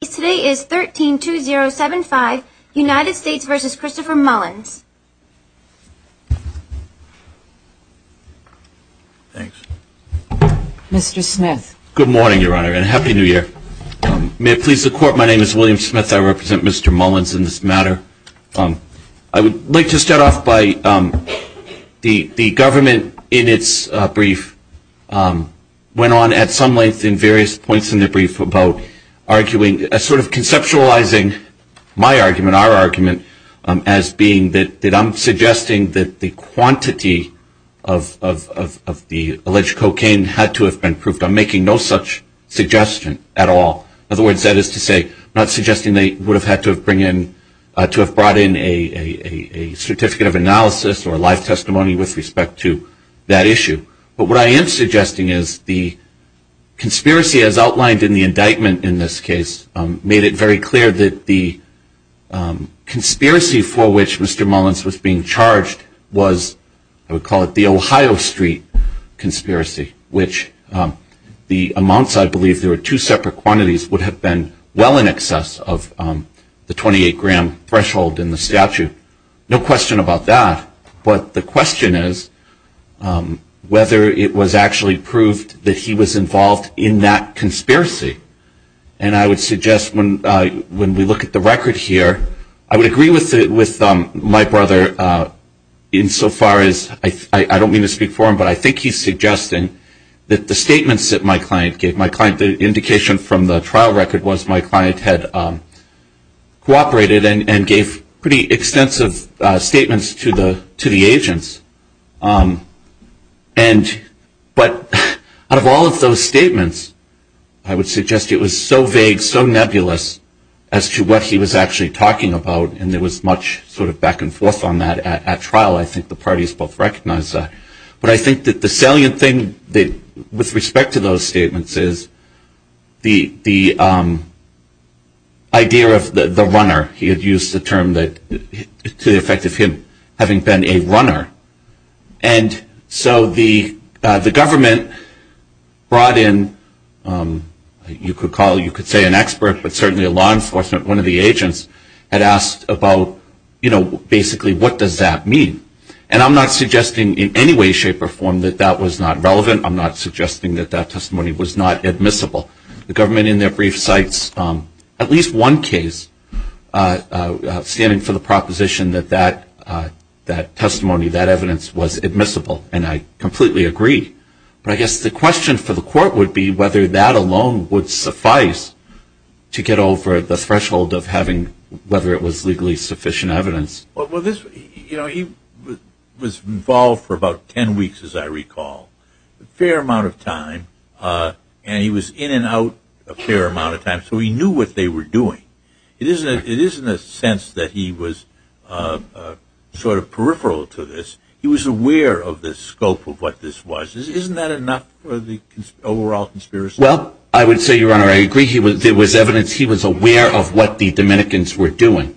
Today is 13-2075, United States v. Christopher Mullins. Mr. Smith. Good morning, Your Honor, and Happy New Year. May it please the Court, my name is William Smith. I represent Mr. Mullins in this matter. I would like to start off by the government in its brief went on at some length in various points in the brief about arguing a sort of conceptualizing my argument, our argument, as being that I'm suggesting that the quantity of the alleged cocaine had to have been proved. I'm making no such suggestion at all. In other words, that is to say, I'm not suggesting they would have had to have brought in a certificate of analysis or a live testimony with respect to that issue. But what I am suggesting is the conspiracy as outlined in the indictment in this case made it very clear that the conspiracy for which Mr. Mullins was being charged was, I would call it the Ohio Street conspiracy, which the amounts I believe there were two separate quantities, would have been well in excess of the 28-gram threshold in the statute. No question about that. But the question is whether it was actually proved that he was involved in that conspiracy. And I would suggest when we look at the record here, I would agree with my brother insofar as, I don't mean to speak for him, but I think he's suggesting that the statements that my client gave, the indication from the trial record was my client had cooperated and gave pretty extensive statements to the agents. But out of all of those statements, I would suggest it was so vague, so nebulous as to what he was actually talking about, and there was much sort of back and forth on that at trial. I think the parties both recognized that. But I think that the salient thing with respect to those statements is the idea of the runner. He had used the term to the effect of him having been a runner. And so the government brought in, you could call, you could say an expert, but certainly a law enforcement, one of the agents, had asked about, you know, basically what does that mean. And I'm not suggesting in any way, shape, or form that that was not relevant. I'm not suggesting that that testimony was not admissible. The government in their brief cites at least one case standing for the proposition that that testimony, that evidence was admissible, and I completely agree. But I guess the question for the court would be whether that alone would suffice to get over the threshold of having, whether it was legally sufficient evidence. Well, you know, he was involved for about 10 weeks, as I recall, a fair amount of time, and he was in and out a fair amount of time. So he knew what they were doing. It isn't a sense that he was sort of peripheral to this. He was aware of the scope of what this was. Isn't that enough for the overall conspiracy? Well, I would say, Your Honor, I agree there was evidence he was aware of what the Dominicans were doing.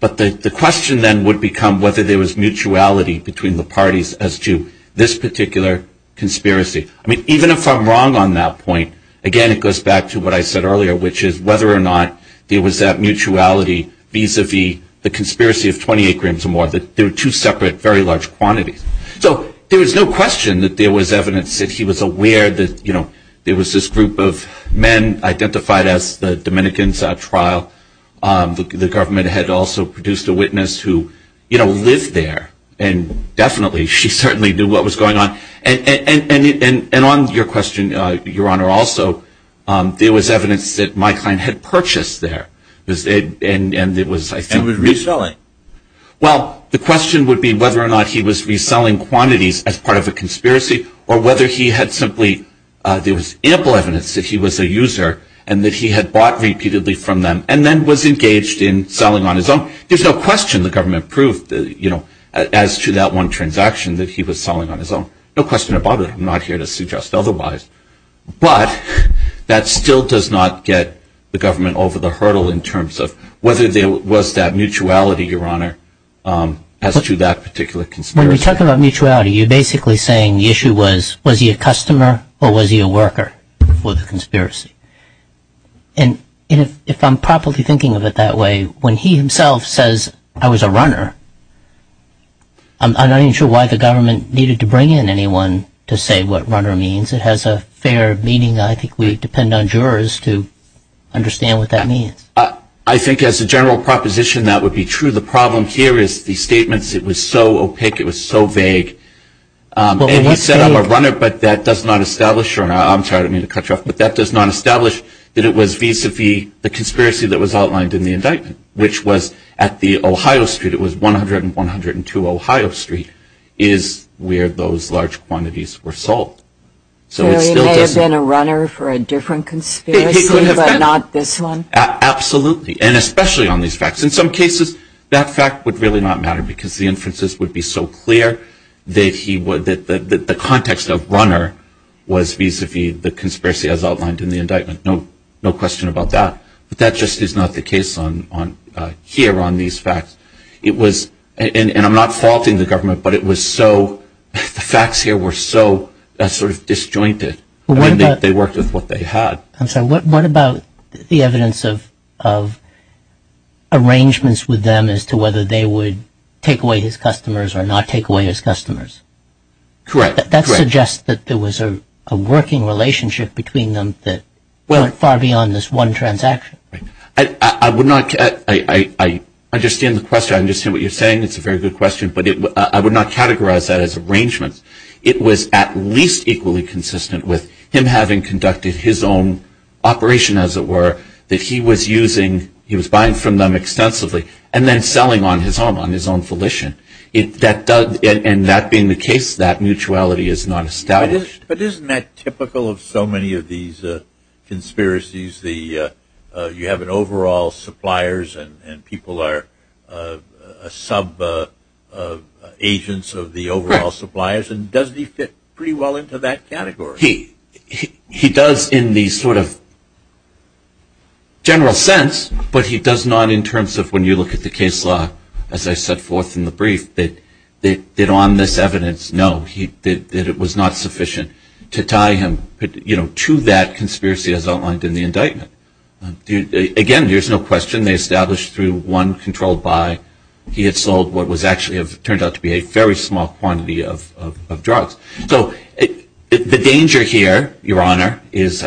But the question then would become whether there was mutuality between the parties as to this particular conspiracy. I mean, even if I'm wrong on that point, again, it goes back to what I said earlier, which is whether or not there was that mutuality vis-a-vis the conspiracy of 28 grams or more, that there were two separate very large quantities. So there was no question that there was evidence that he was aware that, you know, there was this group of men identified as the Dominicans at trial. The government had also produced a witness who, you know, lived there, and definitely she certainly knew what was going on. And on your question, Your Honor, also, there was evidence that my client had purchased there. And it was, I think he was reselling. Well, the question would be whether or not he was reselling quantities as part of a conspiracy or whether he had simply there was ample evidence that he was a user and that he had bought repeatedly from them and then was engaged in selling on his own. There's no question the government proved, you know, as to that one transaction that he was selling on his own. No question about it. I'm not here to suggest otherwise. But that still does not get the government over the hurdle in terms of whether there was that mutuality, Your Honor, as to that particular conspiracy. When you talk about mutuality, you're basically saying the issue was, was he a customer or was he a worker for the conspiracy? And if I'm properly thinking of it that way, when he himself says, I was a runner, I'm not even sure why the government needed to bring in anyone to say what runner means. It has a fair meaning. I think we depend on jurors to understand what that means. I think as a general proposition, that would be true. The problem here is the statements, it was so opaque, it was so vague. And he said, I'm a runner, but that does not establish, Your Honor, I'm sorry, I don't mean to cut you off, but that does not establish that it was vis-a-vis the conspiracy that was outlined in the indictment, which was at the Ohio Street. It was 100 and 102 Ohio Street is where those large quantities were sold. So it still doesn't. So he may have been a runner for a different conspiracy, but not this one? Absolutely. And especially on these facts. In some cases, that fact would really not matter because the inferences would be so clear that the context of runner was vis-a-vis the conspiracy as outlined in the indictment. No question about that. But that just is not the case here on these facts. It was, and I'm not faulting the government, but it was so, the facts here were so sort of disjointed. They worked with what they had. I'm sorry, what about the evidence of arrangements with them as to whether they would take away his customers or not take away his customers? Correct. That suggests that there was a working relationship between them that went far beyond this one transaction. I understand the question. I understand what you're saying. It's a very good question, but I would not categorize that as arrangements. It was at least equally consistent with him having conducted his own operation, as it were, that he was using, he was buying from them extensively and then selling on his own, on his own volition. And that being the case, that mutuality is not established. But isn't that typical of so many of these conspiracies? You have an overall suppliers and people are sub-agents of the overall suppliers, and doesn't he fit pretty well into that category? He does in the sort of general sense, but he does not in terms of when you look at the case law, as I set forth in the brief, that on this evidence, no, that it was not sufficient to tie him to that conspiracy as outlined in the indictment. Again, there's no question they established through one controlled buy, he had sold what was actually turned out to be a very small quantity of drugs. So the danger here, Your Honor, is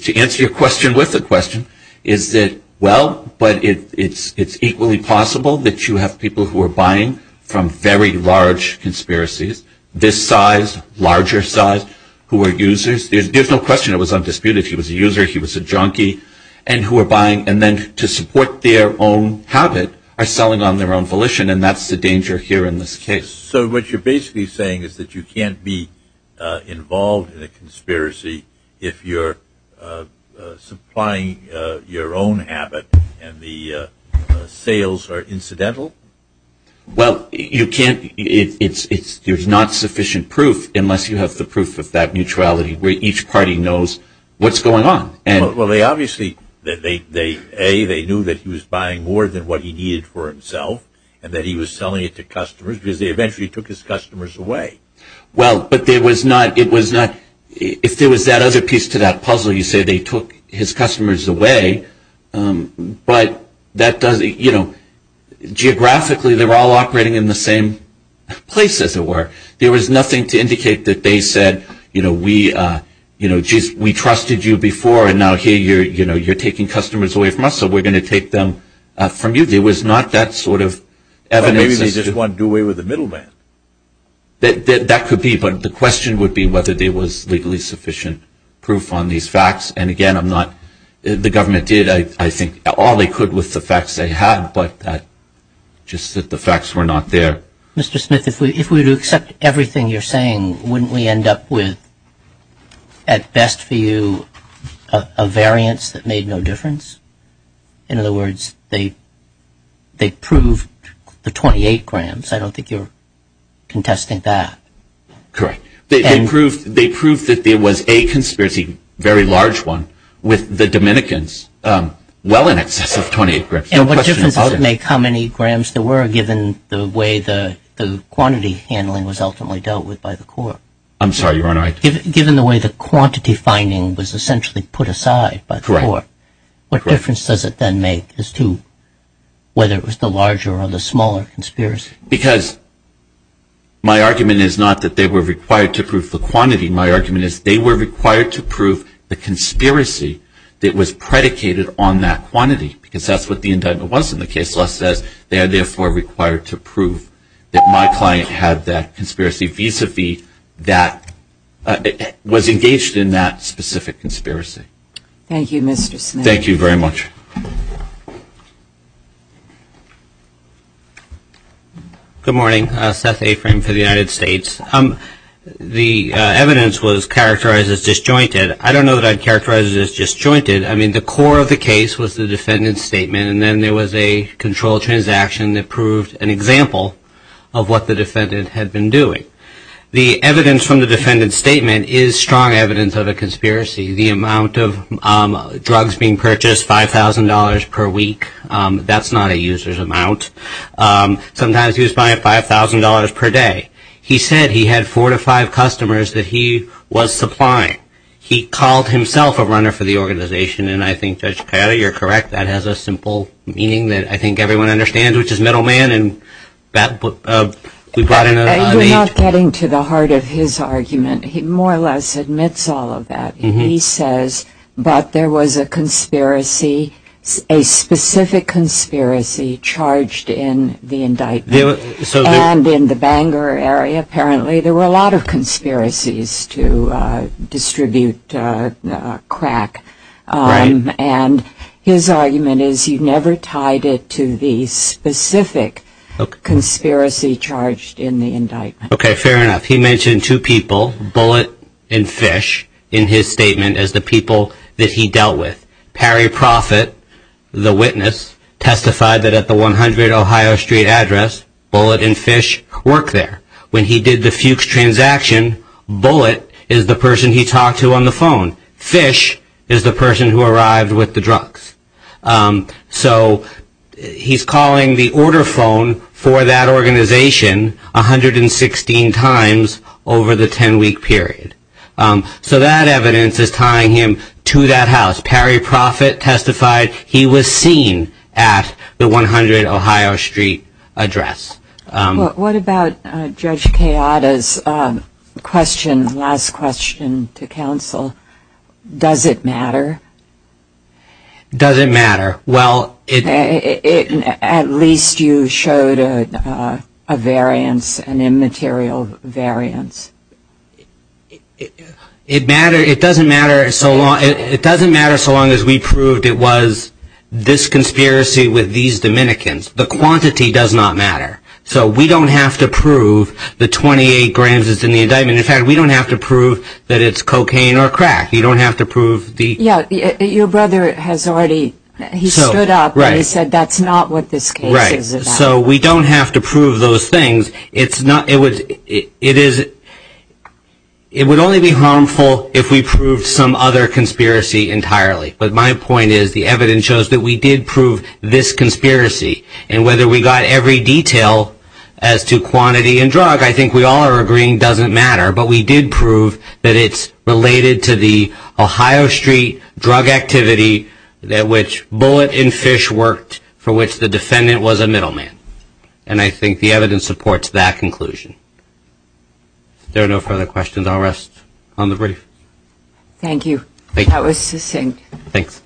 to answer your question with a question, is that, well, but it's equally possible that you have people who are buying from very large conspiracies, this size, larger size, who are users. There's no question it was undisputed. He was a user, he was a junkie, and who are buying, and then to support their own habit, are selling on their own volition, and that's the danger here in this case. So what you're basically saying is that you can't be involved in a conspiracy if you're supplying your own habit and the sales are incidental? Well, you can't, there's not sufficient proof unless you have the proof of that neutrality where each party knows what's going on. Well, they obviously, A, they knew that he was buying more than what he needed for himself, and that he was selling it to customers, because they eventually took his customers away. Well, but there was not, it was not, if there was that other piece to that puzzle, you say they took his customers away, but that doesn't, you know, geographically they're all operating in the same place, as it were. There was nothing to indicate that they said, you know, we trusted you before, and now here you're taking customers away from us, so we're going to take them from you. There was not that sort of evidence. Well, maybe they just want to do away with the middle man. That could be, but the question would be whether there was legally sufficient proof on these facts, and again, I'm not, the government did, I think, all they could with the facts they had, but just that the facts were not there. Mr. Smith, if we were to accept everything you're saying, wouldn't we end up with, at best for you, a variance that made no difference? In other words, they proved the 28 grams. I don't think you're contesting that. Correct. They proved that there was a conspiracy, a very large one, with the Dominicans, well in excess of 28 grams. And what difference does it make how many grams there were, given the way the quantity handling was ultimately dealt with by the court? I'm sorry, Your Honor. Given the way the quantity finding was essentially put aside by the court, what difference does it then make as to whether it was the larger or the smaller conspiracy? Because my argument is not that they were required to prove the quantity. My argument is they were required to prove the conspiracy that was predicated on that quantity, because that's what the indictment was in the case. They are therefore required to prove that my client had that conspiracy, vis-à-vis that was engaged in that specific conspiracy. Thank you, Mr. Smith. Thank you very much. Good morning. Seth Afrin for the United States. The evidence was characterized as disjointed. I don't know that I'd characterize it as disjointed. I mean, the core of the case was the defendant's statement and then there was a controlled transaction that proved an example of what the defendant had been doing. The evidence from the defendant's statement is strong evidence of a conspiracy. The amount of drugs being purchased, $5,000 per week, that's not a user's amount. Sometimes he was buying $5,000 per day. He said he had four to five customers that he was supplying. He called himself a runner for the organization, and I think, Judge Cato, you're correct. That has a simple meaning that I think everyone understands, which is middleman. You're not getting to the heart of his argument. He more or less admits all of that. He says, but there was a specific conspiracy charged in the indictment. And in the Bangor area, apparently, there were a lot of conspiracies to distribute crack. And his argument is he never tied it to the specific conspiracy charged in the indictment. Okay, fair enough. He mentioned two people, Bullitt and Fish, in his statement as the people that he dealt with. Perry Proffitt, the witness, testified that at the 100 Ohio Street address, Bullitt and Fish worked there. When he did the Fuchs transaction, Bullitt is the person he talked to on the phone. Fish is the person who arrived with the drugs. So he's calling the order phone for that organization 116 times over the 10-week period. So that evidence is tying him to that house. Perry Proffitt testified he was seen at the 100 Ohio Street address. What about Judge Kayada's last question to counsel? Does it matter? Does it matter? At least you showed a variance, an immaterial variance. It doesn't matter so long as we proved it was this conspiracy with these Dominicans. The quantity does not matter. So we don't have to prove the 28 grams is in the indictment. In fact, we don't have to prove that it's cocaine or crack. You don't have to prove the... Yeah, your brother has already, he stood up and he said that's not what this case is about. Right, so we don't have to prove those things. It would only be harmful if we proved some other conspiracy entirely. But my point is the evidence shows that we did prove this conspiracy. And whether we got every detail as to quantity and drug, I think we all are agreeing doesn't matter. But we did prove that it's related to the Ohio Street drug activity at which Bullitt and Fish worked, for which the defendant was a middleman. And I think the evidence supports that conclusion. If there are no further questions, I'll rest on the brief. Thank you. That was succinct. Thanks.